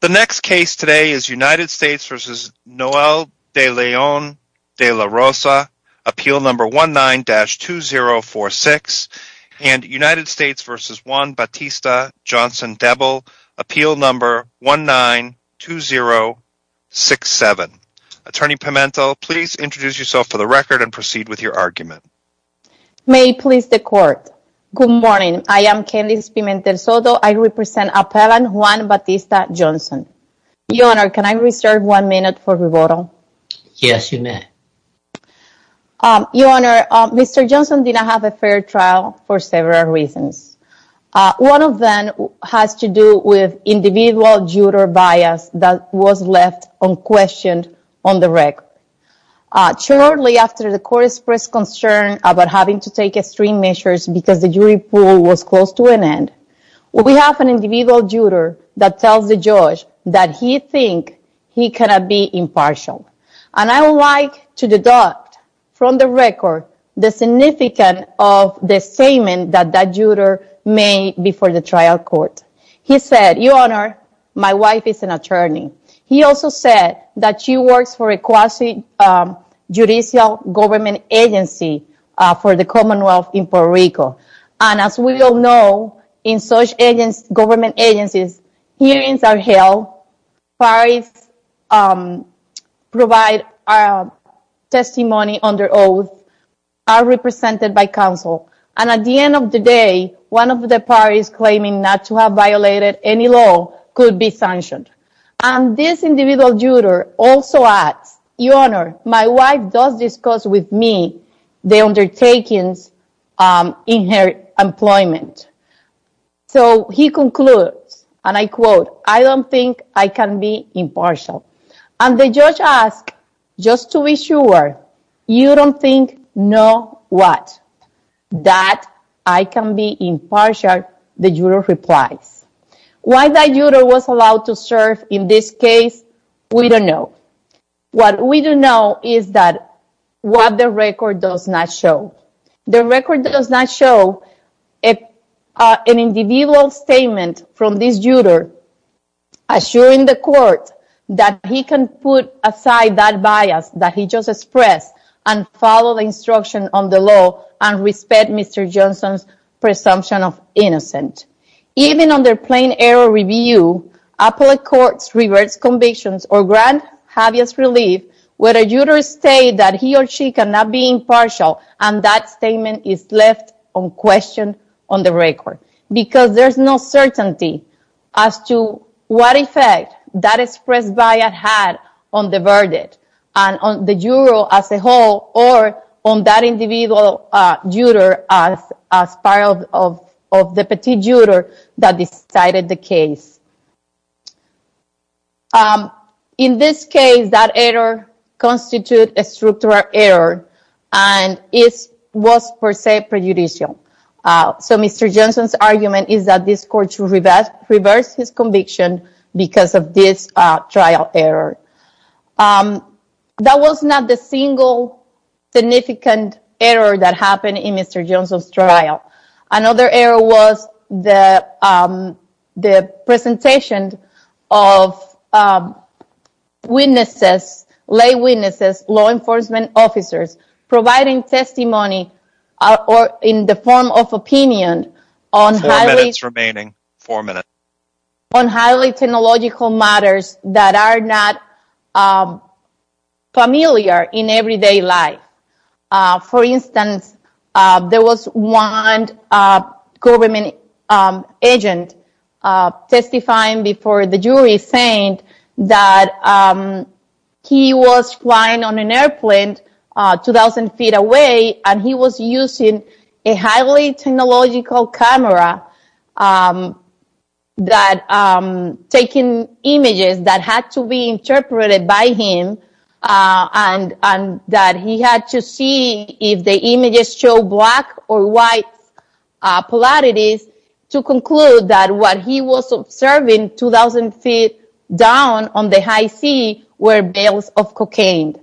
The next case today is United States v. Noel De Leon-De la Rosa, appeal number 19-2046 and United States v. Juan Batista Johnson Debel, appeal number 19-2067. Attorney Pimentel, please introduce yourself for the record and proceed with your argument. May it please the court. Good morning. I am Candice Pimentel Soto. I represent Appellant Juan Batista Johnson. Your Honor, can I reserve one minute for rebuttal? Yes, you may. Your Honor, Mr. Johnson did not have a fair trial for several reasons. One of them has to do with individual juror bias that was left unquestioned on the record. Shortly after the court expressed concern about having to judge that he thinks he cannot be impartial. And I would like to deduct from the record the significance of the statement that that juror made before the trial court. He said, Your Honor, my wife is an attorney. He also said that she works for a quasi-judicial government agency for the commonwealth in Puerto Rico. And as we all know, in such government agencies, hearings are held, parties provide testimony under oath, are represented by counsel. And at the end of the day, one of the parties claiming not to have violated any law could be sanctioned. And this individual juror also adds, Your Honor, my wife does discuss with me the undertakings in her employment. So, he concludes, and I quote, I don't think I can be impartial. And the judge asks, just to be sure, you don't think know what? That I can be impartial, the juror replies. Why that juror was allowed to serve in this case, we don't know. What we do know is that what the record does not show. The record does not show an individual statement from this juror assuring the court that he can put aside that bias that he just expressed and follow the instruction on the law and respect Mr. Johnson's presumption of innocence. Even under plain error review, appellate courts reverse convictions or grant habeas relief whether jurors state that he or she cannot be impartial and that statement is left unquestioned on the record. Because there's no certainty as to what effect that expressed bias had on the verdict and on the juror as a whole or on that individual juror as part of the petit juror that decided the case. In this case, that error constitutes a structural error and it was per se prejudicial. So, Mr. Johnson's argument is that this court should reverse his conviction because of this trial error. That was not the single significant error that happened in Mr. Johnson's trial. Another error was the presentation of lay witnesses, law enforcement officers providing testimony in the form of opinion on highly technological matters that are not familiar in everyday life. For instance, there was one government agent testifying before the trial and he was using a highly technological camera that was taking images that had to be interpreted by him and that he had to see if the images showed black or white polarities to conclude that what he was observing 2,000 feet down on the high sea were bales of cocaine.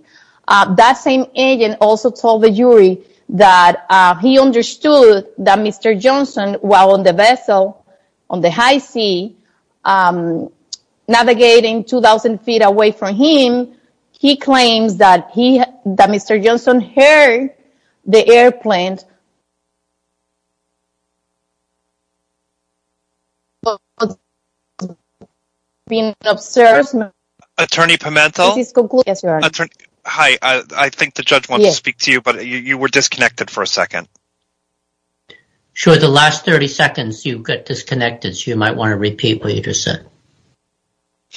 That same agent also told the jury that he understood that Mr. Johnson, while on the vessel on the high sea navigating 2,000 feet away from him, he claims that Mr. Johnson heard the airplane and that he was being an observer. Attorney Pimentel, I think the judge wants to speak to you, but you were disconnected for a second. Sure, the last 30 seconds you got disconnected, so you might want to repeat what you just said.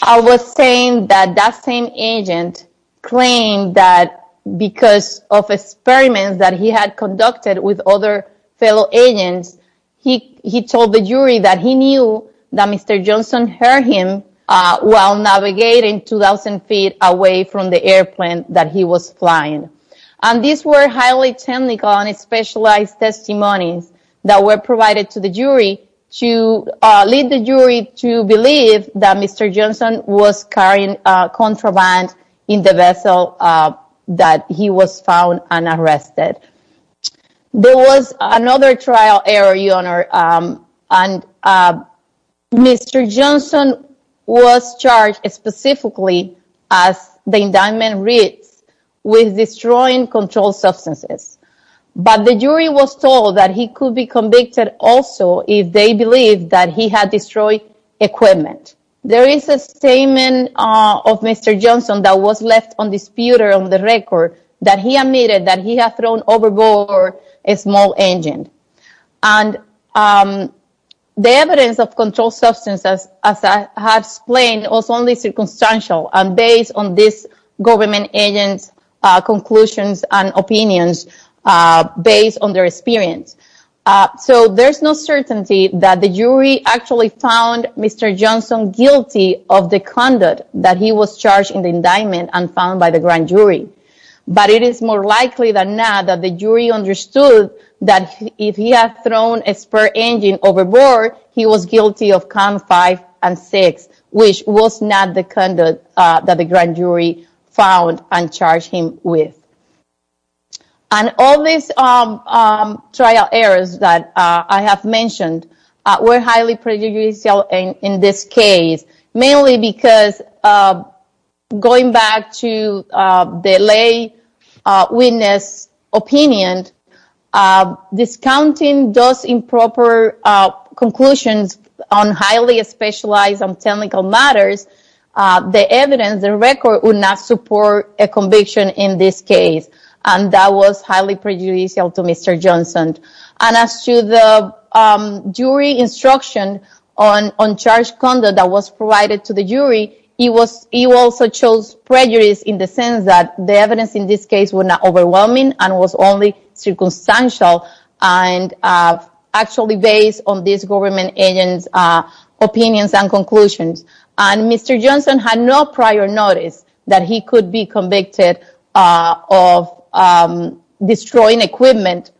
I was saying that that same agent claimed that because of experiments that he had conducted with other fellow agents, he told the jury that he knew that Mr. Johnson heard him while navigating 2,000 feet away from the airplane that he was flying. These were highly technical and specialized testimonies that were provided to the jury to lead the jury to believe that Mr. Johnson was carrying a contraband in the vessel that he was found and arrested. There was another trial error, Your Honor, and Mr. Johnson was charged specifically, as the indictment reads, with that he could be convicted also if they believed that he had destroyed equipment. There is a statement of Mr. Johnson that was left on the disputer on the record that he admitted that he had thrown overboard a small engine. The evidence of controlled substances, as I have explained, was only circumstantial and based on this government agent's conclusions and opinions based on their experience. There's no certainty that the jury actually found Mr. Johnson guilty of the conduct that he was charged in the indictment and found by the grand jury, but it is more likely than not that the jury understood that if he had thrown a spur engine overboard, he was guilty of Con 5 and 6, which was not the conduct that the grand jury found and charged him with. All these trial errors that I have mentioned were highly prejudicial in this case, mainly because, going back to the lay witness opinion, discounting those improper conclusions on highly specialized and technical matters, the evidence, the record, would not support a conviction in this case, and that was highly prejudicial to Mr. Johnson. As to the jury instruction on charged conduct that was provided to the jury, he also chose prejudice in the sense that the evidence in this case was not overwhelming and was only circumstantial and actually based on this government agent's opinions and conclusions. And Mr. Johnson had no prior notice that he could be convicted of destroying equipment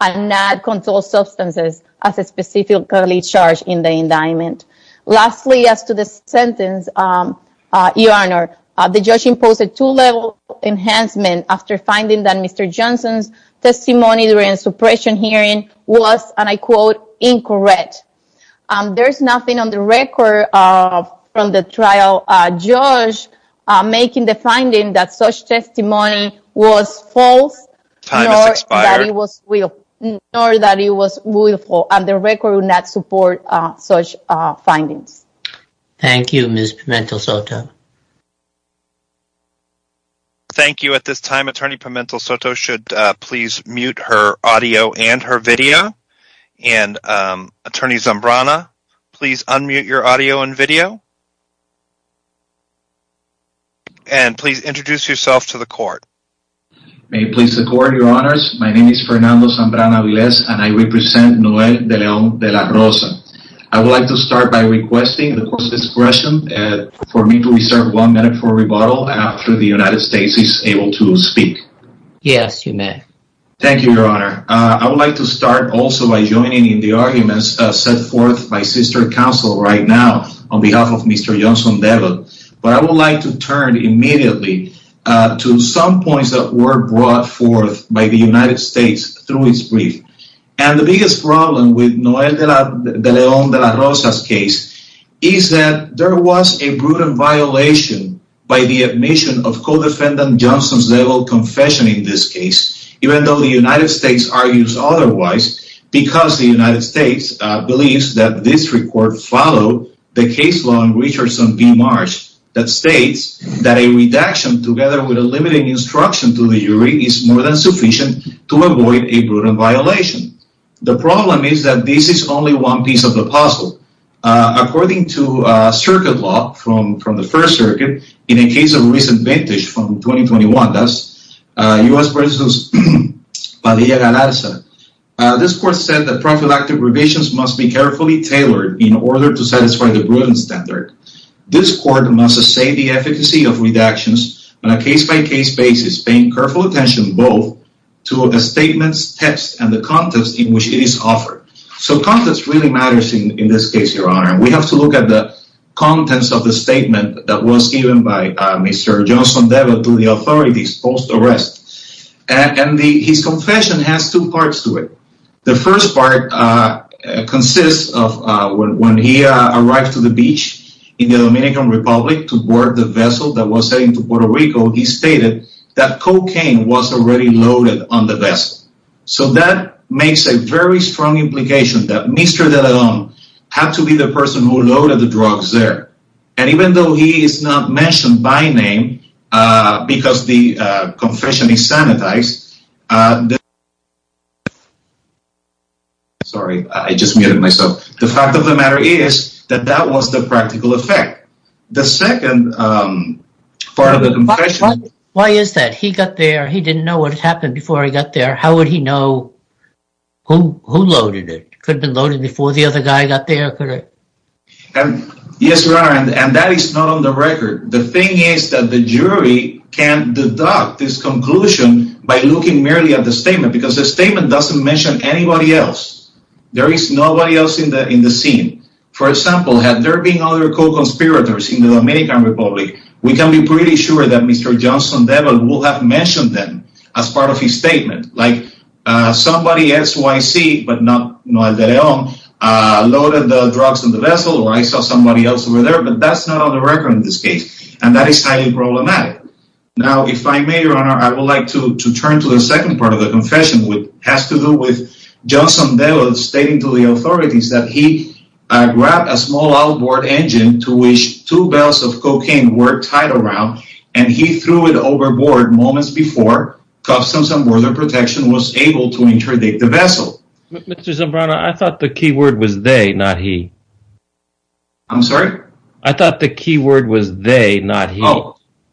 and not controlled substances as specifically charged in the indictment. Lastly, as to the sentence, Your Honor, the judge imposed a two-level enhancement after finding that Mr. Johnson's testimony during the suppression hearing was, and I quote, incorrect. There's nothing on the record from the trial judge making the finding that such testimony was false, nor that it was willful, and the record would not support such findings. Thank you, Ms. Pimentel-Soto. Thank you. At this time, Attorney Pimentel-Soto should please mute her audio and her video, and Attorney Zambrana, please unmute your audio and video, and please introduce yourself to the court. May it please the court, Your Honors. My name is Fernando Zambrana-Aviles, and I represent Noel de Leon de la Rosa. I would like to start by requesting the court's discretion for me to reserve one minute for rebuttal after the United States. I would like to turn immediately to some points that were brought forth by the United States through its brief, and the biggest problem with Noel de Leon de la Rosa's case is that there was a brutal violation by the admission of co-defendant Johnson's confession in this case, even though the United States argues otherwise because the United States believes that this record followed the case law in Richardson v. Marsh that states that a redaction together with a limited instruction to the jury is more than sufficient to avoid a brutal violation. The problem is that this is only one piece of the puzzle. According to circuit law from the U.S. v. Padilla-Galarza, this court said that prophylactic revisions must be carefully tailored in order to satisfy the Brutal standard. This court must say the efficacy of redactions on a case-by-case basis, paying careful attention both to a statement's text and the context in which it is offered. So context really matters in this case, Your Honor. We have to look at the authorities post-arrest. And his confession has two parts to it. The first part consists of when he arrived to the beach in the Dominican Republic to board the vessel that was heading to Puerto Rico, he stated that cocaine was already loaded on the vessel. So that makes a very strong implication that Mr. de Leon had to be the person who loaded the drugs there. And even though he is not mentioned by name, because the confession is sanitized. Sorry, I just muted myself. The fact of the matter is that that was the practical effect. The second part of the confession... Why is that? He got there, he didn't know what happened before he got there. How would he know who loaded it? Could it have been loaded before the other guy got there? Yes, Your Honor, and that is not on the record. The thing is that the jury can't deduct this conclusion by looking merely at the statement, because the statement doesn't mention anybody else. There is nobody else in the scene. For example, had there been other co-conspirators in the Dominican Republic, we can be pretty sure that Mr. Johnson Devil would have mentioned them as part of his statement. Like, somebody SYC, but not Noel de Leon, loaded the drugs on the vessel, or I saw somebody else over there, but that's not on the record in this case, and that is highly problematic. Now, if I may, Your Honor, I would like to turn to the second part of the confession, which has to do with Johnson Devil stating to the authorities that he grabbed a small outboard engine to which two barrels of cocaine were tied around, and he threw it overboard moments before Customs and Border Protection was able to interdict the vessel. Mr. Zambrano, I thought the key word was they, not he. I'm sorry? I thought the key word was they, not he.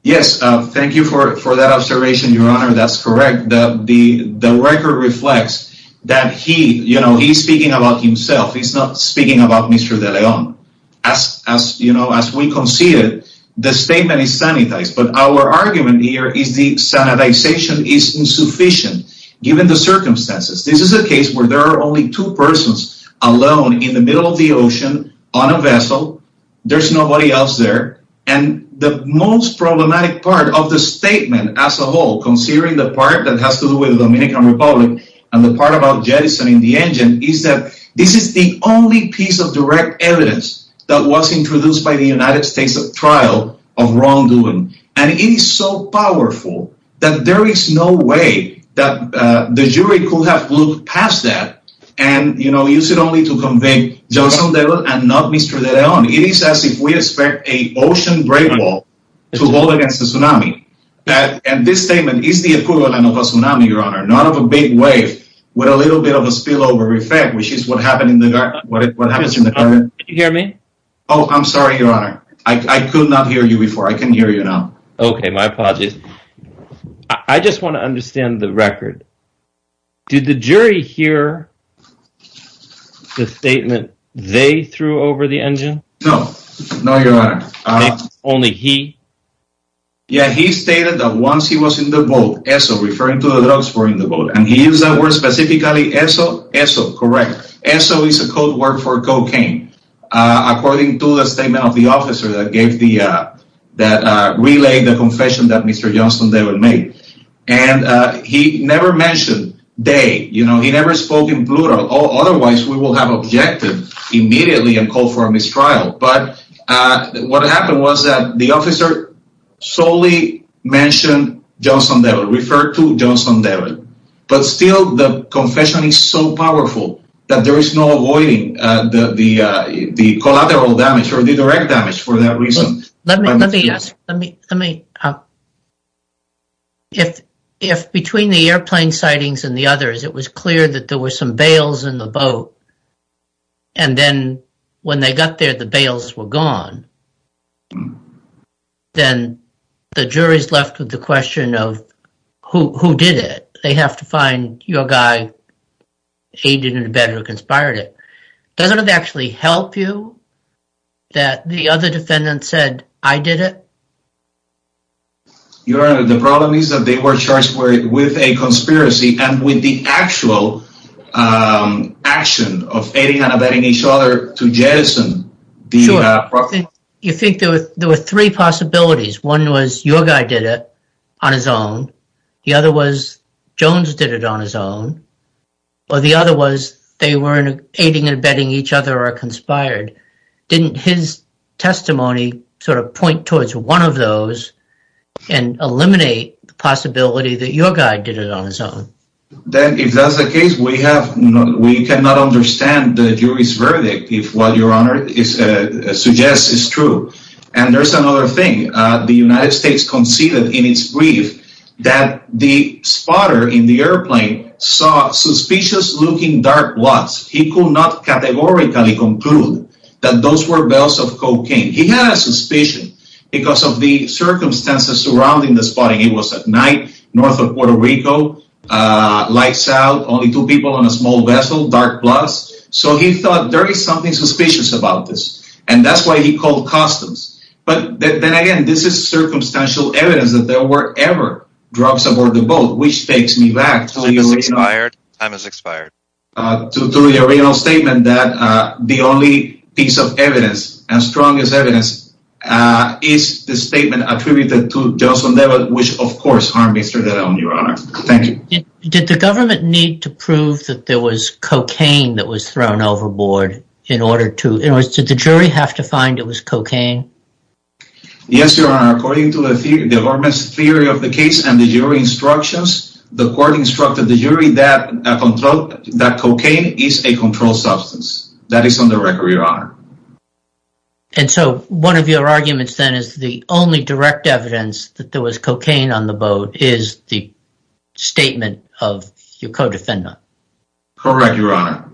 Yes, thank you for that observation, Your Honor. That's correct. The record reflects that he, you know, he's speaking about himself. He's not speaking about Mr. De Leon. As, you know, as we conceded, the statement is sanitized, but our argument here is the sanitization is insufficient given the circumstances. This is a case where there are only two persons alone in the middle of the ocean on a vessel. There's nobody else there, and the most problematic part of the statement as a whole, considering the part that has to do with the Dominican Republic and the part about jettisoning the engine, is that this is the only piece of direct evidence that was introduced by the United States at trial of wrongdoing, and it is so powerful that there is no way that the jury could have looked past that and, you know, use it only to convict Johnson DeVille and not Mr. De Leon. It is as if we expect an ocean great wall to hold against a tsunami, and this statement is the equivalent of a tsunami, not of a big wave with a little bit of a spillover effect, which is what happened in the garden. Can you hear me? Oh, I'm sorry, your honor. I could not hear you before. I can hear you now. Okay, my apologies. I just want to understand the record. Did the jury hear the statement they threw over the engine? No, no, your honor. Only he? Yeah, he stated that once he was in the boat, ESO, referring to the drugs were in the boat, and he used that word specifically ESO. ESO, correct. ESO is a code word for cocaine, according to the statement of the officer that relayed the confession that Mr. Johnson DeVille made, and he never mentioned they, you know, he never spoke in plural. Otherwise, we will have solely mentioned Johnson DeVille, referred to Johnson DeVille, but still the confession is so powerful that there is no avoiding the collateral damage or the direct damage for that reason. Let me ask. If between the airplane sightings and the others, it was clear that there were some bales in the boat, and then when they got there, the bales were gone, then the jury's left with the question of who did it. They have to find your guy aided and abetted or conspired it. Doesn't it actually help you that the other defendant said, I did it? Your honor, the problem is that they were charged with a conspiracy and with the actual action of aiding and abetting each other to jettison. Sure. You think there were three possibilities. One was your guy did it on his own. The other was Jones did it on his own. Or the other was they were aiding and abetting each other or conspired. Didn't his testimony sort of point towards one of those and eliminate the possibility that your guy did it on his own? Then if that's the case, we cannot understand the jury's verdict if what your honor suggests is true. And there's another thing. The United States conceded in its brief that the spotter in the airplane saw suspicious looking dark blots. He could not categorically conclude that those were bales of cocaine. He had a suspicion because of the circumstances surrounding the spotting. It was at night north of Puerto Rico, lights out, only two people on a small vessel, dark blots. So he thought there is something suspicious about this. And that's why he called customs. But then again, this is circumstantial evidence that there were ever drugs aboard the boat, which takes me back to the original statement that the only piece of evidence that was found was cocaine. Did the government need to prove that there was cocaine that was thrown overboard in order to, in other words, did the jury have to find it was cocaine? Yes, your honor. According to the theory of the case and the jury instructions, the court instructed the jury that cocaine is a controlled substance. That is on the record, your honor. And so one of your arguments then is the only direct evidence that there was cocaine on the boat is the statement of your co-defendant. Correct, your honor.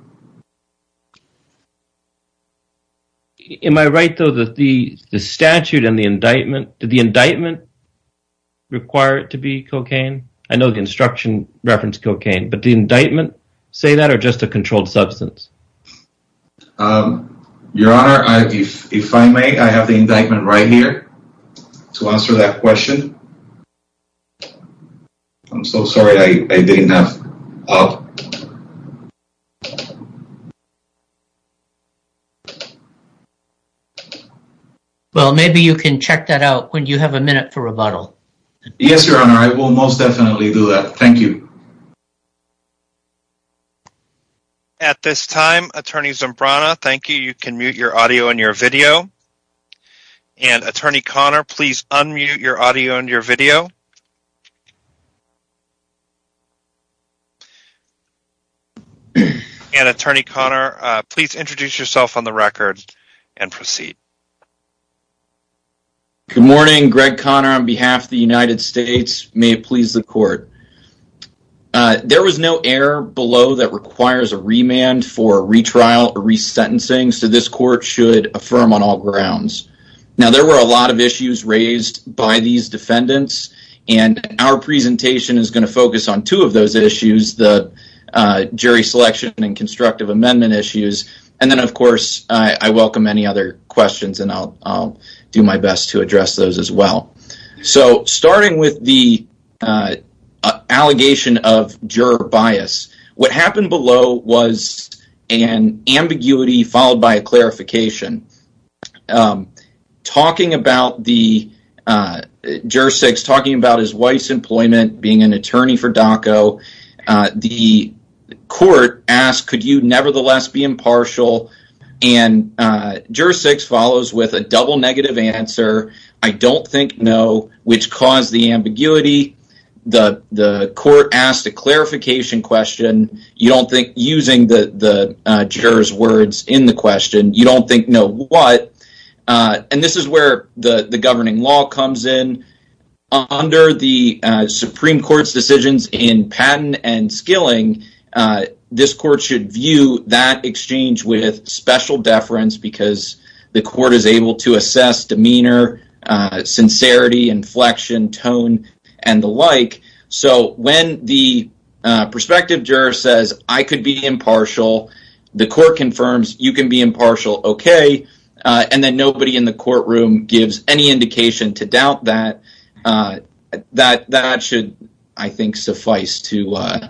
Am I right though that the statute and the indictment, did the indictment require it to be cocaine? I know the instruction referenced cocaine, but the indictment say that or just a controlled substance? Your honor, if I may, I have the indictment right here to answer that question. I'm so sorry. I didn't have. Well, maybe you can check that out when you have a minute for rebuttal. Yes, your honor. I will most definitely do that. Thank you. At this time, attorney Zimbrana, thank you. You can mute your audio and your video. And attorney Conner, please unmute your audio and your video. And attorney Conner, please introduce yourself on the record and proceed. Good morning. Greg Conner on behalf of the United States. May it please the court. There was no error below that requires a remand for retrial or resentencing. So this court should affirm on all grounds. Now, there were a lot of issues raised by these defendants. And our presentation is going to focus on two of those issues, the jury selection and constructive amendment issues. And then, of course, I welcome any other questions and I'll do my best to allegation of juror bias. What happened below was an ambiguity followed by a clarification. Talking about the juror six, talking about his wife's employment, being an attorney for DACA, the court asked, could you nevertheless be impartial? And juror six follows with a double answer. I don't think no, which caused the ambiguity. The court asked a clarification question. You don't think using the juror's words in the question, you don't think no what. And this is where the governing law comes in. Under the Supreme Court's decisions in patent and skilling, this court should view that exchange with special deference because the court is able to assess demeanor, sincerity, inflection, tone, and the like. So when the prospective juror says, I could be impartial, the court confirms you can be impartial, okay. And then nobody in the courtroom gives any indication to doubt that. That should, I think, suffice to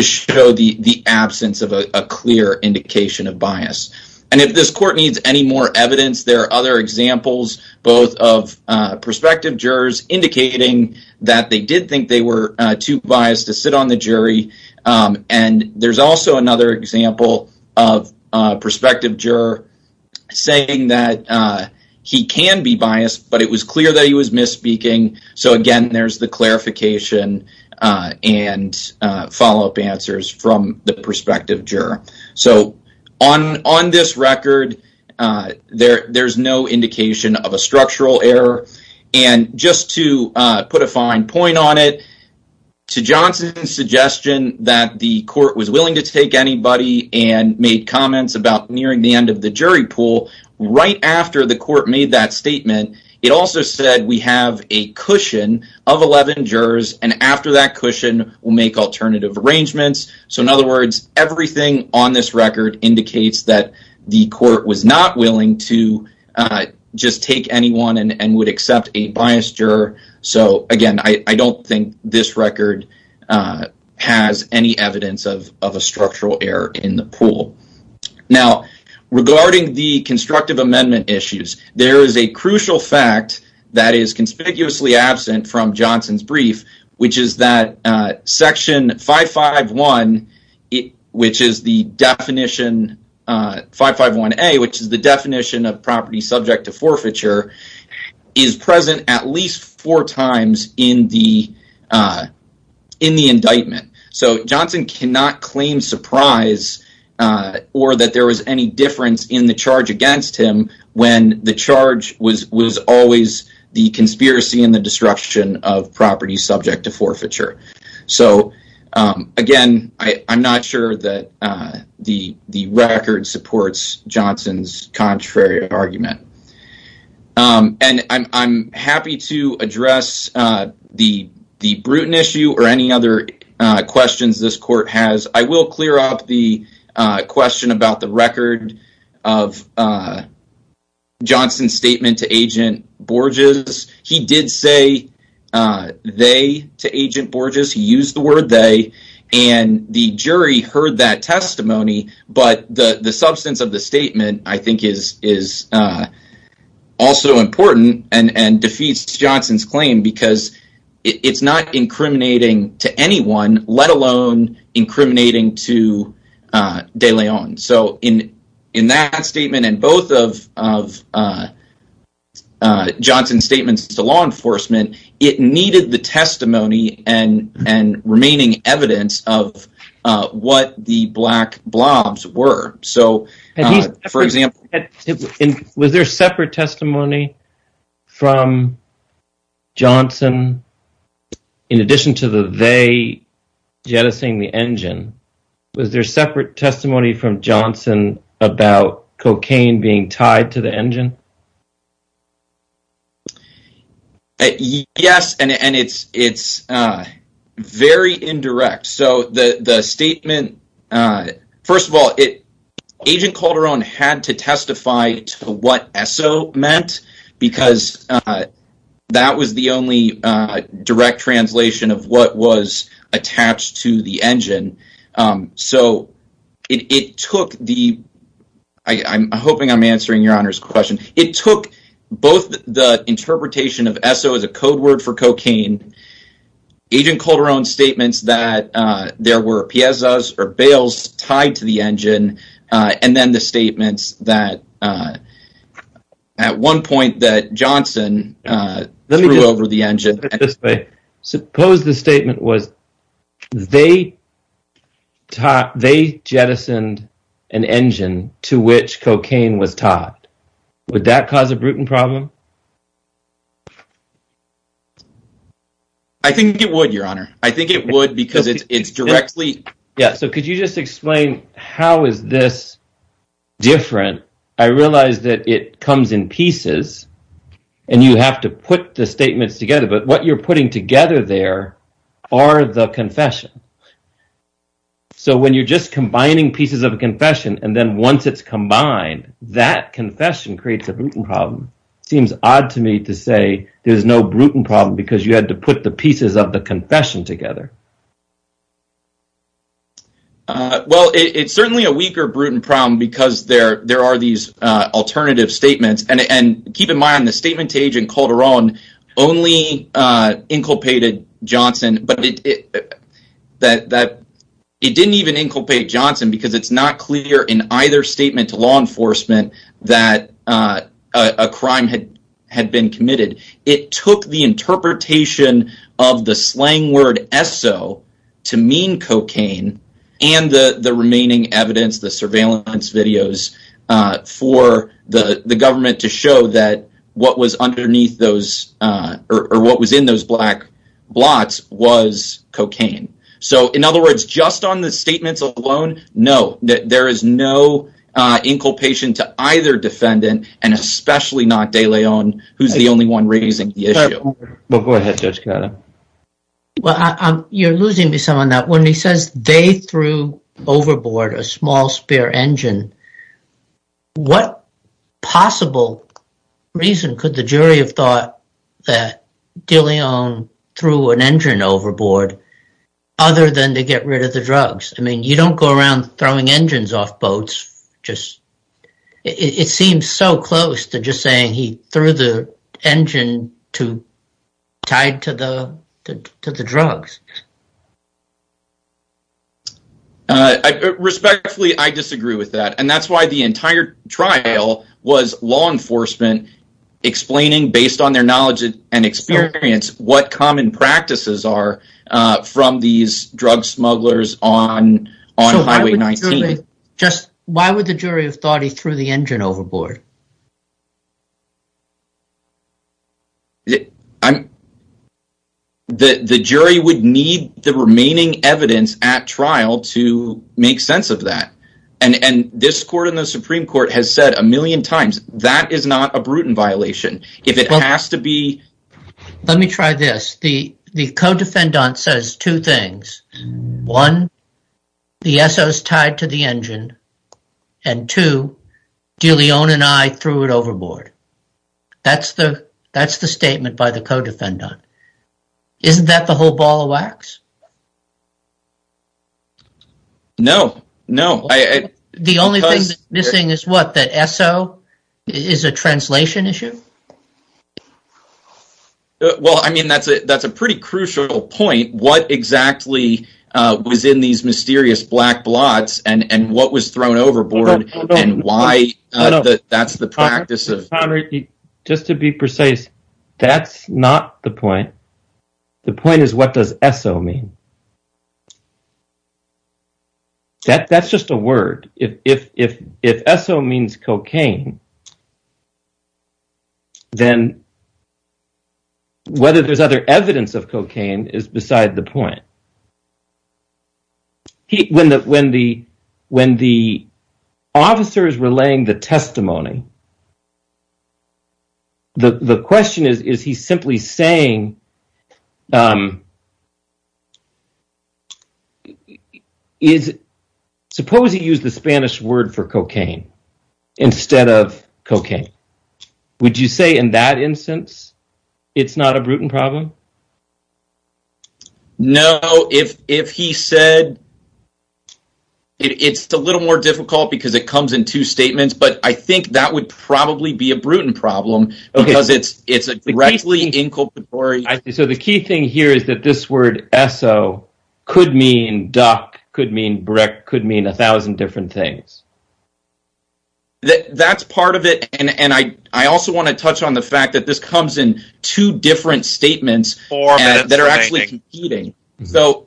show the absence of a clear indication of bias. And if this court needs any more evidence, there are other examples, both of prospective jurors indicating that they did think they were too biased to sit on the jury. And there's also another example of a prospective juror saying that he can be biased, but it was clear that he was misspeaking. So again, there's the clarification and follow-up answers from the prospective juror. So on this record, there's no indication of a structural error. And just to put a fine point on it, to Johnson's suggestion that the court was willing to take anybody and made comments about nearing the end of the jury pool, right after the court made that statement, it also said we have a cushion of 11 jurors, and after that cushion, we'll make alternative arrangements. So in other words, everything on this record indicates that the court was not willing to just take anyone and would accept a biased juror. So again, I don't think this record has any evidence of a structural error in the pool. Now, regarding the constructive amendment issues, there is a crucial fact that is conspicuously absent from Johnson's brief, which is that section 551A, which is the definition of property subject to forfeiture, is present at least four times in the indictment. So Johnson cannot claim surprise or that there was any difference in the charge against him when the charge was always the forfeiture. So again, I'm not sure that the record supports Johnson's contrary argument. And I'm happy to address the Bruton issue or any other questions this court has. I will clear up a question about the record of Johnson's statement to Agent Borges. He did say they to Agent Borges. He used the word they, and the jury heard that testimony. But the substance of the statement, I think, is also important and defeats Johnson's claim because it's not incriminating to de Leon. So in that statement and both of Johnson's statements to law enforcement, it needed the testimony and remaining evidence of what the black blobs were. So for example, was there separate testimony from Was there separate testimony from Johnson about cocaine being tied to the engine? Yes, and it's very indirect. So the statement, first of all, Agent Calderon had to testify to what Esso meant because that was the only direct translation of what was attached to the engine. So it took the, I'm hoping I'm answering your Honor's question, it took both the interpretation of Esso as a code word for cocaine, Agent Calderon's statements that there were bails tied to the engine, and then the statements that at one point that Johnson threw over the engine. Suppose the statement was they jettisoned an engine to which cocaine was tied. Would that cause a Bruton problem? I think it would, your Honor. I think it would because it's directly. Yeah, so could you just explain how is this different? I realize that it comes in pieces and you have to put the statements together, but what you're putting together there are the confession. So when you're just combining pieces of a confession and then once it's combined, that confession creates a Bruton problem. It seems to me that's the only way to do it. Odd to me to say there's no Bruton problem because you had to put the pieces of the confession together. Well, it's certainly a weaker Bruton problem because there are these alternative statements and keep in mind the statement to Agent Calderon only inculpated Johnson, but it didn't even inculpate Johnson because it's not clear in either statement to enforcement that a crime had been committed. It took the interpretation of the slang word SO to mean cocaine and the remaining evidence, the surveillance videos for the government to show that what was underneath those or what was in those black blots was cocaine. So in other words, just on the statements alone, no, there is no inculpation to either defendant and especially not De Leon, who's the only one raising the issue. Well, go ahead, Judge Calderon. Well, you're losing me some on that. When he says they threw overboard a small spare engine, what possible reason could the jury have thought that De Leon threw an engine overboard other than to get rid of the drugs? I mean, you don't go around throwing engines off boats. It seems so close to just saying he threw the engine tied to the drugs. Respectfully, I disagree with that, and that's why the entire trial was law enforcement explaining based on their knowledge and experience what common practices are from these drug smugglers on Highway 19. Why would the jury have thought he threw the engine overboard? The jury would need the remaining evidence at trial to make sense of that, and this court has said a million times that is not a brutal violation. Let me try this. The co-defendant says two things. One, the SO's tied to the engine, and two, De Leon and I threw it overboard. That's the statement by the co-defendant. Isn't that the whole ball of wax? No, no. The only thing that's missing is what? That SO is a translation issue? Well, I mean, that's a pretty crucial point. What exactly was in these mysterious black blots, and what was thrown overboard, and why? That's the practice of... Just to be precise, that's not the point. The point is, what does SO mean? That's just a word. If SO means cocaine, then whether there's other evidence of cocaine is beside the point. When the officer is relaying the testimony, the question is, is he simply saying... Suppose he used the Spanish word for cocaine instead of cocaine. Would you say in that instance it's not a brutal problem? No. If he said... It's a little more difficult because it comes in two statements, but I think that would probably be a brutal problem because it's a directly inculpatory... So the key thing here is that this word SO could mean duck, could mean brick, could mean a thousand different things. That's part of it, and I also want to touch on the fact that this comes in two different statements that are actually competing. So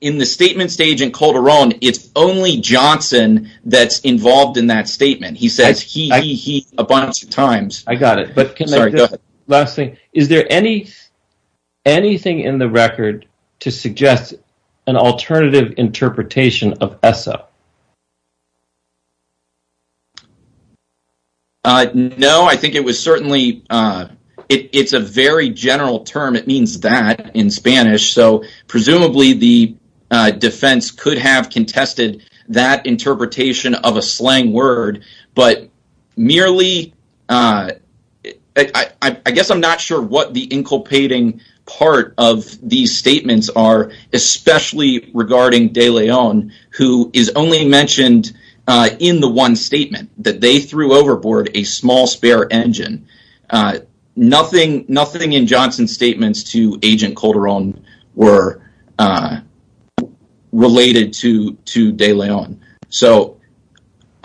in the statement stage in Calderon, it's only Johnson that's involved in that statement. He says he, he, he a bunch of times. I got it, but can I... Sorry, go ahead. Last thing, is there anything in the record to suggest an alternative interpretation of SO? No, I think it was certainly... It's a very general term. It means that in Spanish. So presumably the defense could have contested that interpretation of a slang word, but merely... I guess I'm not sure what the inculpating part of these statements are, especially regarding De Leon, who is only mentioned in the one statement that they threw overboard a small spare engine. Nothing in Johnson's statements to Agent Calderon were related to De Leon. So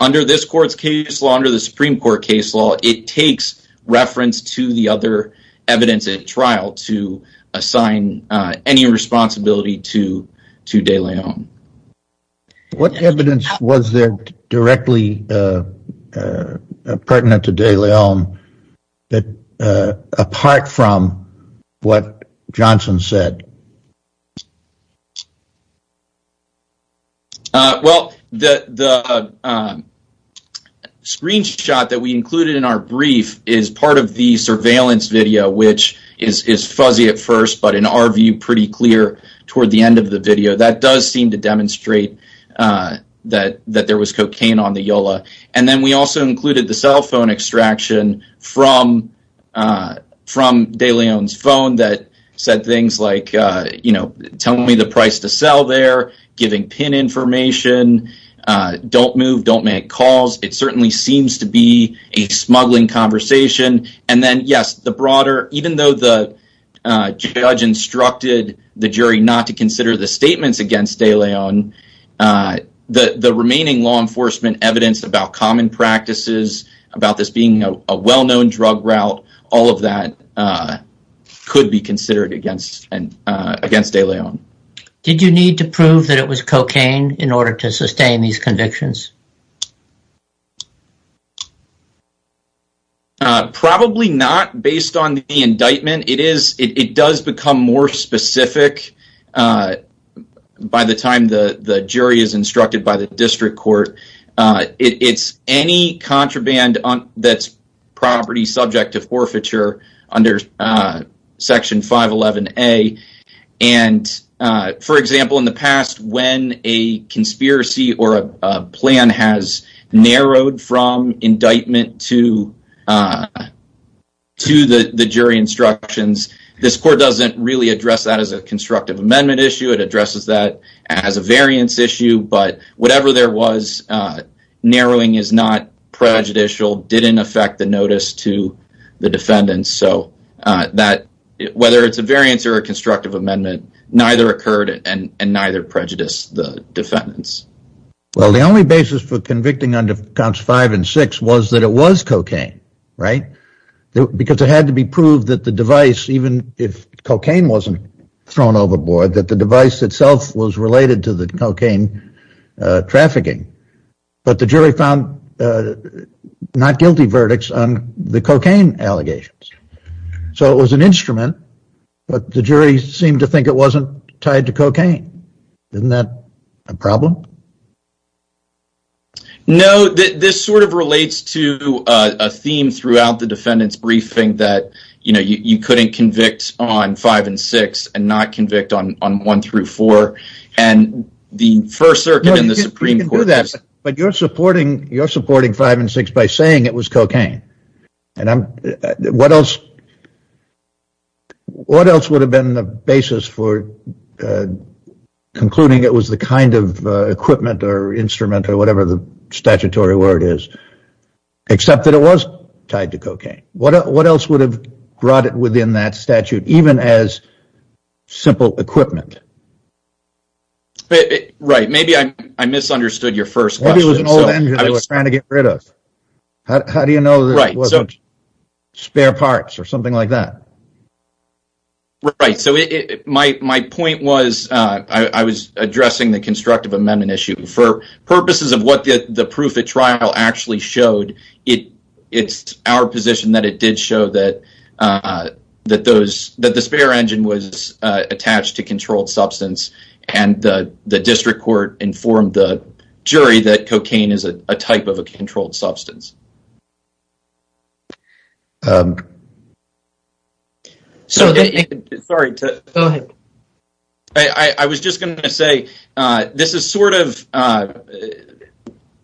under this court's case law, under the Supreme Court case law, it takes reference to the other evidence at trial to assign any responsibility to De Leon. What evidence was there directly pertinent to De Leon apart from what Johnson said? Well, the screenshot that we included in our brief is part of the surveillance video, which is fuzzy at first, but in our view pretty clear toward the end of the video. That does seem to demonstrate that, that there was cocaine on the Yola. And then we also included the cell phone extraction from De Leon's phone that said things like, you know, tell me the price to sell there, giving pin information, don't move, don't make calls. It certainly seems to be a smuggling conversation. And then, yes, the broader... Even though the judge instructed the jury not to consider the statements against De Leon, the remaining law enforcement evidence about common practices, about this being a well-known drug route, all of that could be considered against De Leon. Did you need to prove that it was cocaine in order to sustain these convictions? Probably not, based on the indictment. It does become more specific by the time the jury is contraband that's property subject to forfeiture under Section 511A. And, for example, in the past, when a conspiracy or a plan has narrowed from indictment to the jury instructions, this court doesn't really address that as a constructive amendment issue. It addresses that as a variance issue, but whatever there was, narrowing is not prejudicial, didn't affect the notice to the defendants. So, whether it's a variance or a constructive amendment, neither occurred and neither prejudiced the defendants. Well, the only basis for convicting under Counts 5 and 6 was that it was cocaine, right? Because it had to be proved that the device, even if cocaine wasn't thrown overboard, that the device itself was related to the cocaine trafficking. But the jury found not guilty verdicts on the cocaine allegations. So, it was an instrument, but the jury seemed to think it wasn't tied to cocaine. Isn't that a problem? No, this sort of relates to a theme throughout the defendant's briefing that, you know, you couldn't convict on 5 and 6 and not convict on 1 through 4. But you're supporting 5 and 6 by saying it was cocaine. And what else would have been the basis for concluding it was the kind of equipment or instrument or whatever the statutory word is, except that it was tied to cocaine? What else would have brought it within that statute, even as simple equipment? Right, maybe I misunderstood your first question. How do you know that it wasn't spare parts or something like that? Right, so my point was, I was addressing the constructive amendment issue. For it's our position that it did show that the spare engine was attached to controlled substance, and the district court informed the jury that cocaine is a type of a controlled substance. So, I was just going to say, this is sort of,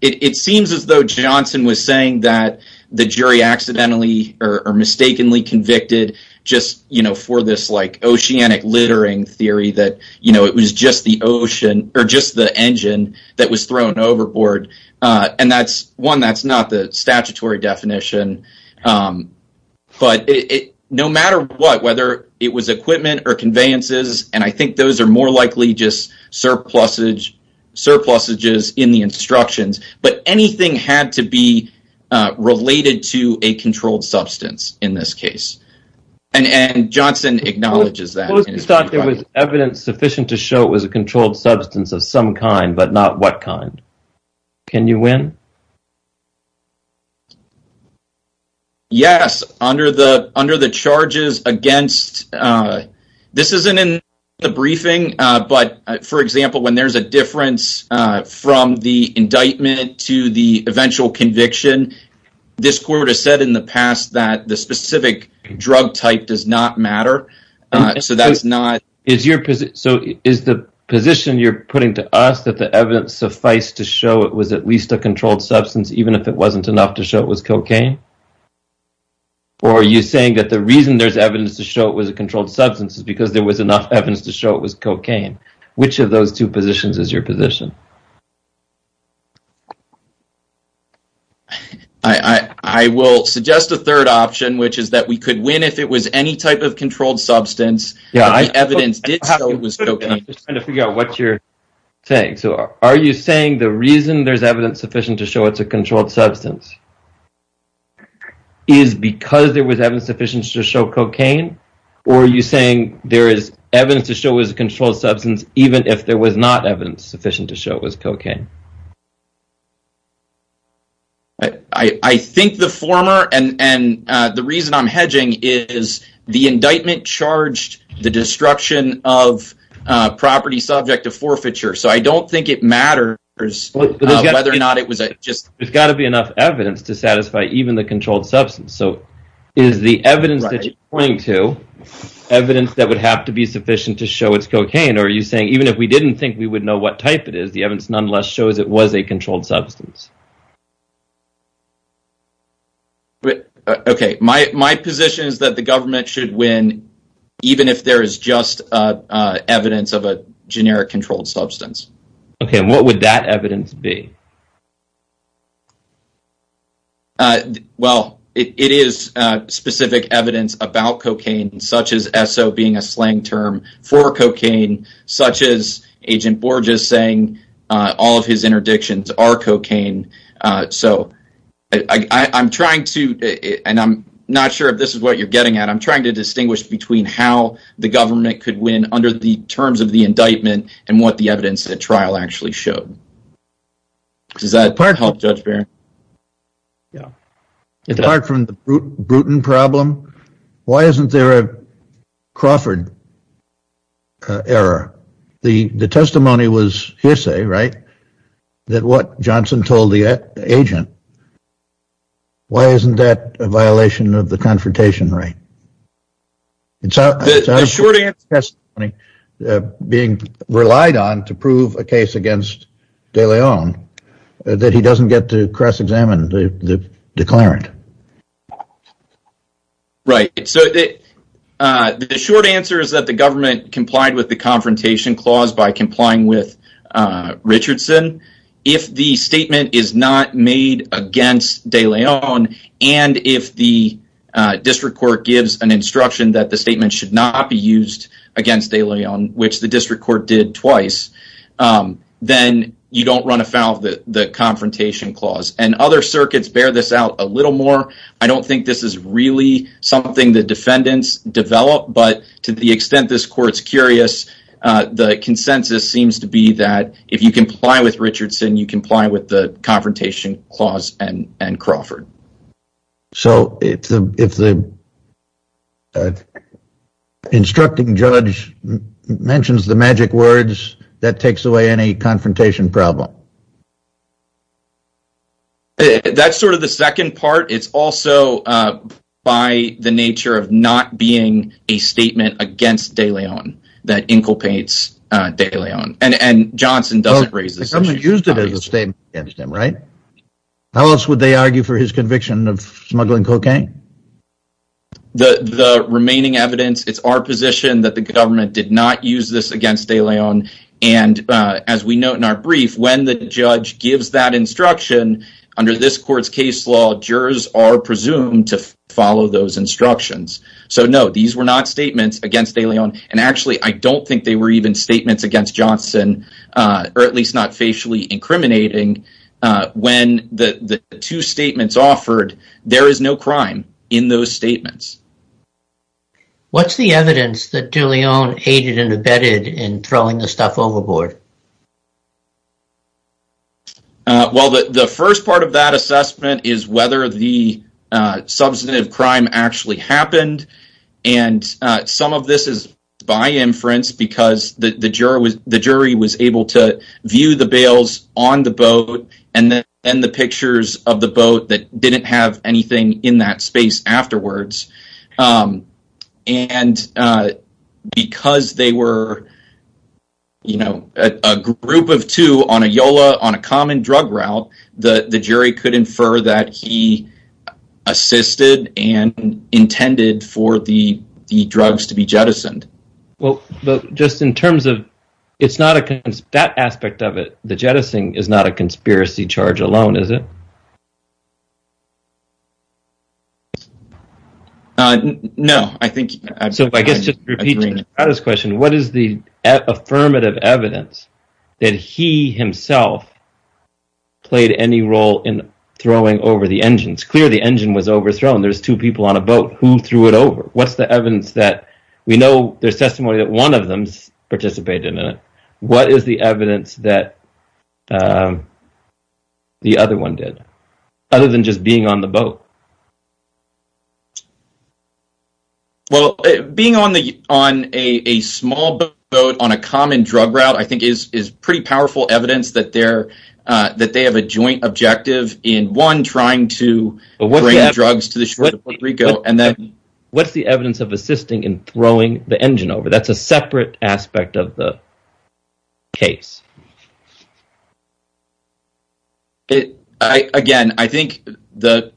it seems as though Johnson was saying that the jury accidentally or mistakenly convicted just, you know, for this, like, oceanic littering theory that, you know, it was just the ocean or just the engine that was thrown overboard. And that's one that's not the statutory definition. But no matter what, whether it was equipment or conveyances, and I think those are more likely just surpluses in the instructions, but anything had to be related to a controlled substance in this case. And Johnson acknowledges that. Suppose you thought there was evidence sufficient to show it was a controlled substance of some kind, but not what kind. Can you win? Yes, under the charges against, this isn't in the briefing, but for example, when there's a difference from the indictment to the eventual conviction, this court has said in the past that the specific drug type does not matter. So, that's not... So, is the position you're putting to us that the evidence suffice to show it was at least a controlled substance, even if it wasn't enough to show it was cocaine? Or are you saying that the reason there's evidence to show it was a controlled substance is because there was enough evidence to show it was cocaine? Which of those two positions is your position? I will suggest a third option, which is that we could win if it was any type of Are you saying the reason there's evidence sufficient to show it's a controlled substance is because there was evidence sufficient to show cocaine? Or are you saying there is evidence to show it was a controlled substance, even if there was not evidence sufficient to show it was cocaine? I think the former, and the reason I'm hedging, is the indictment charged the destruction of So, I don't think it matters whether or not it was just... There's got to be enough evidence to satisfy even the controlled substance. So, is the evidence that you're pointing to evidence that would have to be sufficient to show it's cocaine? Or are you saying even if we didn't think we would know what type it is, the evidence nonetheless shows it was a controlled substance? Okay, my position is that the government should even if there is just evidence of a generic controlled substance. Okay, and what would that evidence be? Well, it is specific evidence about cocaine, such as SO being a slang term for cocaine, such as Agent Borges saying all of his interdictions are cocaine. So, I'm trying to, and I'm not sure if this is what you're getting at, I'm trying to distinguish between how the government could win under the terms of the indictment and what the evidence at trial actually showed. Does that part help, Judge Barron? Yeah, apart from the Bruton problem, why isn't there a Crawford error? The testimony was hearsay, right? That what Johnson told the agent, why isn't that a violation of the confrontation right? It's a short testimony being relied on to prove a case against De Leon that he doesn't get to cross-examine the declarant. Right, so the short answer is that the government complied with the made against De Leon, and if the district court gives an instruction that the statement should not be used against De Leon, which the district court did twice, then you don't run afoul of the confrontation clause. And other circuits bear this out a little more. I don't think this is really something the defendants develop, but to the extent this court's curious, the consensus seems to be that if you comply with Richardson, you comply with the confrontation clause and Crawford. So if the instructing judge mentions the magic words, that takes away any confrontation problem? That's sort of the second part. It's also by the nature of not being a statement against De Leon that inculpates De Leon, and Johnson doesn't raise this. The government used it as a statement against him, right? How else would they argue for his conviction of smuggling cocaine? The remaining evidence, it's our position that the government did not use this against De Leon, and as we note in our brief, when the judge gives that instruction, under this court's case law, jurors are presumed to And actually, I don't think they were even statements against Johnson, or at least not facially incriminating. When the two statements offered, there is no crime in those statements. What's the evidence that De Leon aided and abetted in throwing the stuff overboard? Well, the first part of that assessment is whether the substantive crime actually happened, and some of this is by inference because the jury was able to view the bales on the boat, and then the pictures of the boat that didn't have anything in that space afterwards. And because they were, you know, a group of two on a YOLA, on a common drug route, the jury could infer that he assisted and intended for the drugs to be jettisoned. Well, but just in terms of, it's not a, that aspect of it, the jettisoning is not a conspiracy charge alone, is it? No, I think. So, I guess just to repeat this question, what is the affirmative evidence that he himself played any role in throwing over the engines? It's clear the engine was overthrown. There's two people on a boat. Who threw it over? What's the evidence that, we know there's testimony that one of them's participated in it. What is the evidence that the other one did, other than just being on the boat? Well, being on a small boat on a common drug route, I think, is pretty powerful evidence that they have a joint objective in, one, trying to bring drugs to the shore of Puerto Rico, and then... What's the evidence of assisting in throwing the engine over? That's a separate aspect of the case. It, again, I think the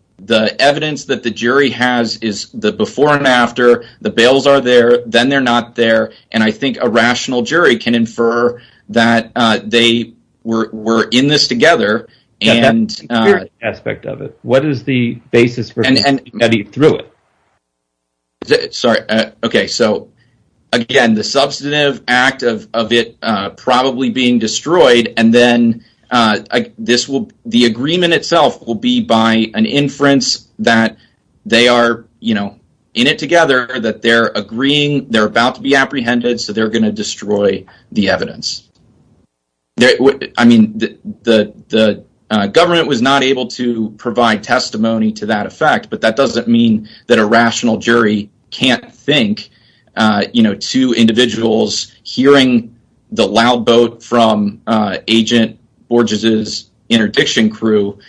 evidence that the jury has is the before and after, the bails are there, then they're not there, and I think a rational jury can infer that they were in this together, and... That's a different aspect of it. What is the basis for getting through it? Okay, so, again, the substantive act of it probably being destroyed, and then the agreement itself will be by an inference that they are, you know, in it together, that they're agreeing, they're about to be apprehended, so they're going to destroy the evidence. I mean, the government was not able to provide testimony to that effect, but that doesn't mean that a rational jury can't think, you know, two individuals hearing the loud boat from Agent Borges' interdiction crew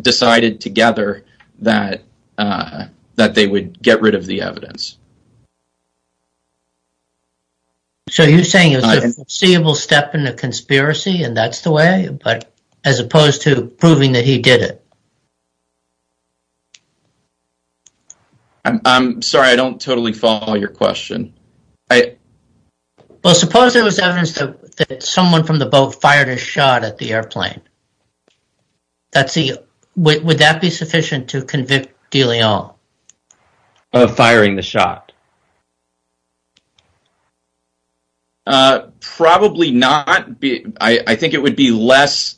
decided together that they would get rid of the evidence. So, you're saying it was a foreseeable step in a conspiracy, and that's the way, but as opposed to proving that he did it? I'm sorry, I don't totally follow your question. Well, suppose there was evidence that someone from the boat fired a shot at the airplane. That's the... Would that be sufficient to convict de Leon? Of firing the shot? Probably not. I think it would be less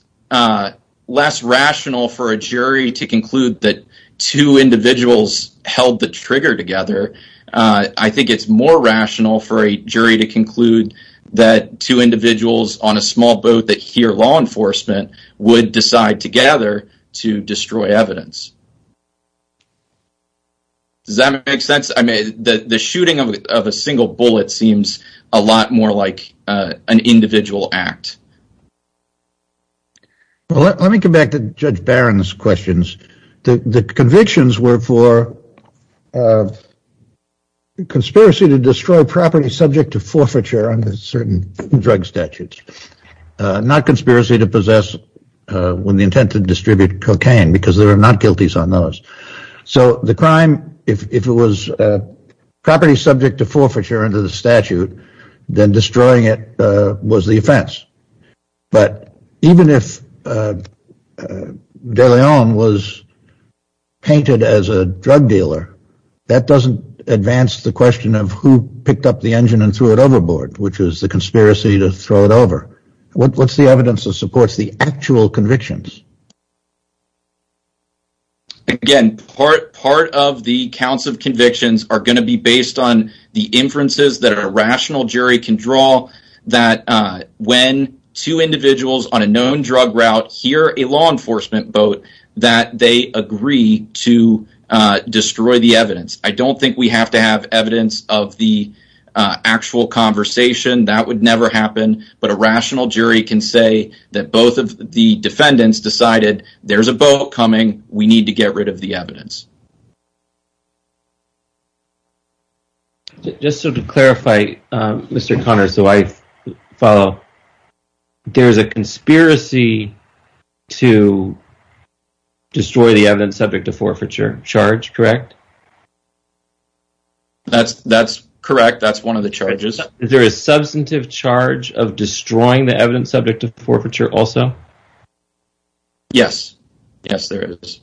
rational for a jury to conclude that two individuals held the trigger together. I think it's more rational for a jury to conclude that two individuals on a small boat that hear law enforcement would decide together to destroy evidence. Does that make sense? I mean, the shooting of a single bullet seems a lot more like an individual act. Well, let me come back to Judge Barron's questions. The convictions were for conspiracy to destroy property subject to forfeiture under certain drug statutes. Not conspiracy to distribute cocaine, because there are not guilties on those. So, the crime, if it was property subject to forfeiture under the statute, then destroying it was the offense. But even if de Leon was painted as a drug dealer, that doesn't advance the question of who picked up the engine and threw it overboard, which was the conspiracy to throw it over. What's the evidence that supports the actual convictions? Again, part of the counts of convictions are going to be based on the inferences that a rational jury can draw, that when two individuals on a known drug route hear a law enforcement boat, that they agree to destroy the evidence. I don't think we have to have evidence of the actual conversation. That would never happen. But a rational jury can say that both of the defendants decided there's a boat coming, we need to get rid of the evidence. Just to clarify, Mr. Connors, so I follow. There's a conspiracy to destroy the evidence subject to forfeiture charge, correct? That's correct. That's one of the charges. Is there a substantive charge of destroying the evidence subject to forfeiture also? Yes. Yes, there is.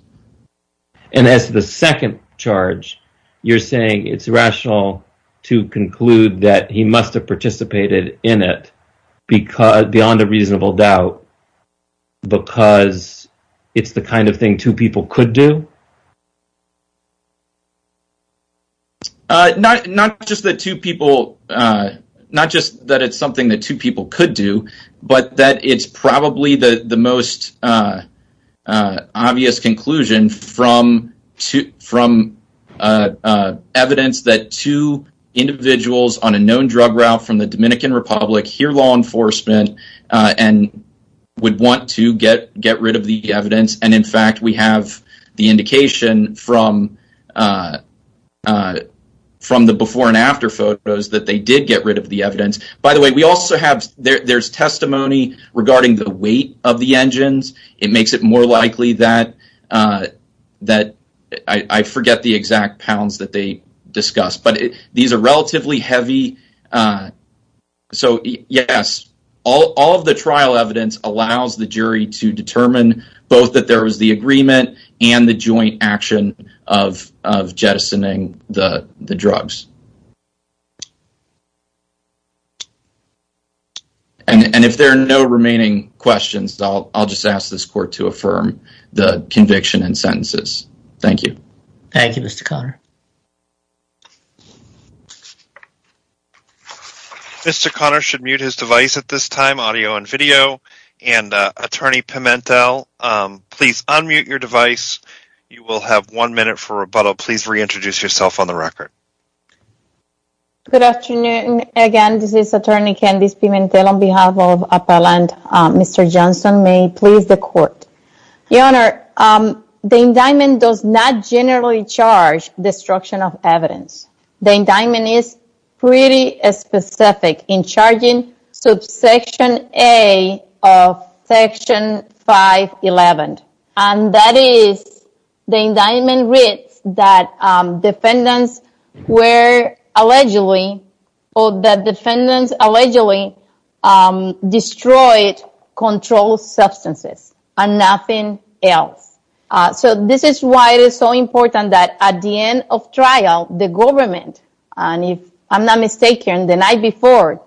And as the second charge, you're saying it's rational to conclude that he must have participated in it beyond a reasonable doubt because it's the kind of people, not just that it's something that two people could do, but that it's probably the most obvious conclusion from evidence that two individuals on a known drug route from the Dominican Republic hear law enforcement and would want to get rid of the evidence. And in fact, we have the indication from the before and after photos that they did get rid of the evidence. By the way, there's testimony regarding the weight of the engines. It makes it more likely that I forget the exact pounds that they discussed. But these are relatively heavy. So, yes, all of the trial evidence allows the jury to determine both that there was the agreement and the joint action of jettisoning the drugs. And if there are no remaining questions, I'll just ask this court to affirm the conviction and sentences. Thank you. Thank you, Mr. Conner. Mr. Conner should mute his device at this time, audio and video. And Attorney Pimentel, please unmute your device. You will have one minute for rebuttal. Please reintroduce yourself on the record. Good afternoon. Again, this is Attorney Candice Pimentel on behalf of Appellant Mr. Johnson. May it please the court? Your Honor, the indictment does not generally charge destruction of evidence. The indictment is pretty specific in charging subsection A of section 511. And that is the indictment reads that defendants allegedly destroyed controlled substances and nothing else. So this is why it is so important that at the end of trial, the government, and if I'm not mistaken, the night before,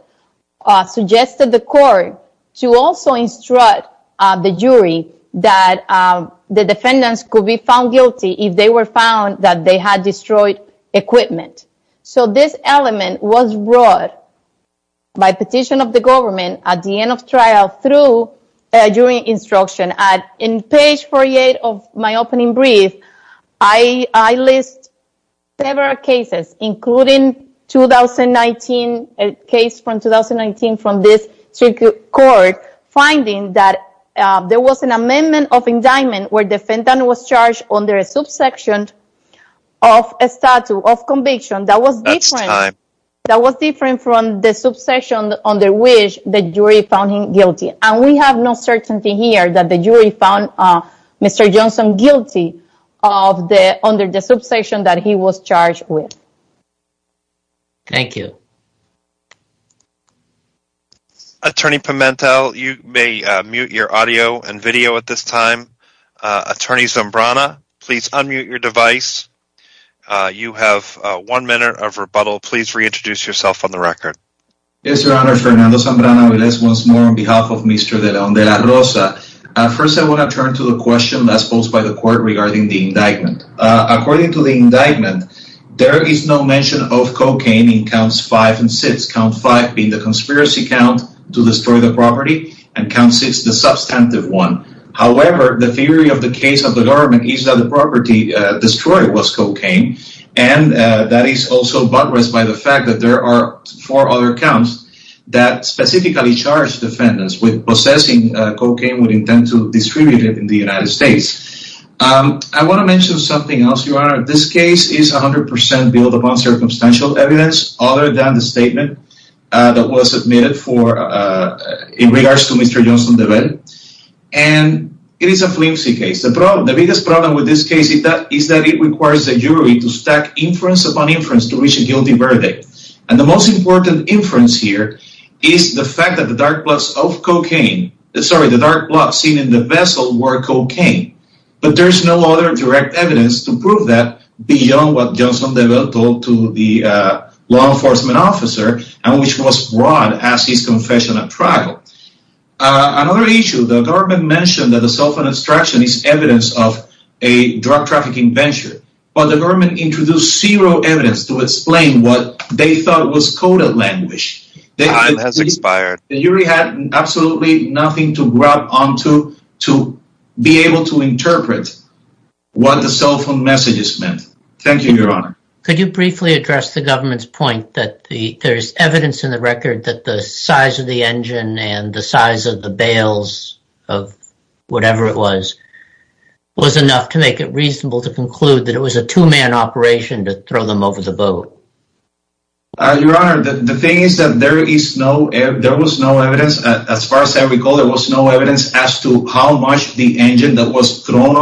suggested the court to also instruct the jury that the defendants could be found guilty if they were found that they had destroyed equipment. So this element was brought by petition of the government at the end of trial during instruction. And in page 48 of my opening brief, I list several cases, including a case from 2019 from this court finding that there was an amendment of indictment where defendant was under a subsection of a statute of conviction that was different from the subsection under which the jury found him guilty. And we have no certainty here that the jury found Mr. Johnson guilty under the subsection that he was charged with. Thank you. Attorney Pimentel, you may mute your audio and video at this time. Attorney Zambrana, please unmute your device. You have one minute of rebuttal. Please reintroduce yourself on the record. Yes, Your Honor. Fernando Zambrana-Aviles once more on behalf of Mr. De Leon de la Rosa. First, I want to turn to the question that's posed by the court regarding the indictment. According to the indictment, there is no mention of cocaine in counts 5 to 6. Count 5 being the conspiracy count to destroy the property, and count 6 the substantive one. However, the theory of the case of the government is that the property destroyed was cocaine. And that is also buttressed by the fact that there are four other counts that specifically charge defendants with possessing cocaine with intent to distribute it in the United States. I want to mention something else, Your Honor. This case is 100 percent built upon circumstantial evidence other than the statement that was submitted in regards to Mr. Johnson De Bell. And it is a flimsy case. The biggest problem with this case is that it requires the jury to stack inference upon inference to reach a guilty verdict. And the most important inference here is the fact that the dark plots seen in the vessel were cocaine. But there is no other evidence to prove that beyond what Johnson De Bell told the law enforcement officer, and which was broad as his confession at trial. Another issue, the government mentioned that the self-destruction is evidence of a drug trafficking venture. But the government introduced zero evidence to explain what they thought was coded language. The jury had absolutely nothing to grab what the cell phone messages meant. Thank you, Your Honor. Could you briefly address the government's point that there is evidence in the record that the size of the engine and the size of the bales of whatever it was, was enough to make it reasonable to conclude that it was a two-man operation to throw them over the boat? Your Honor, the thing is that there was no evidence. As far as I recall, there was no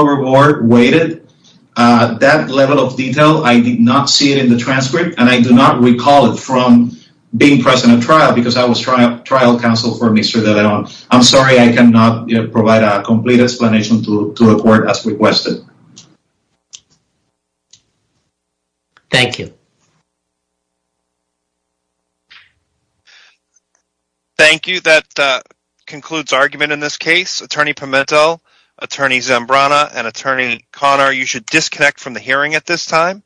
report weighted. That level of detail, I did not see it in the transcript, and I do not recall it from being present at trial, because I was trial counsel for Mr. De Leon. I'm sorry I cannot provide a complete explanation to the court as requested. Thank you. Thank you. That concludes argument in this case. Attorney Pimentel, Attorney Zambrana, and Attorney Conner, you should disconnect from the hearing at this time.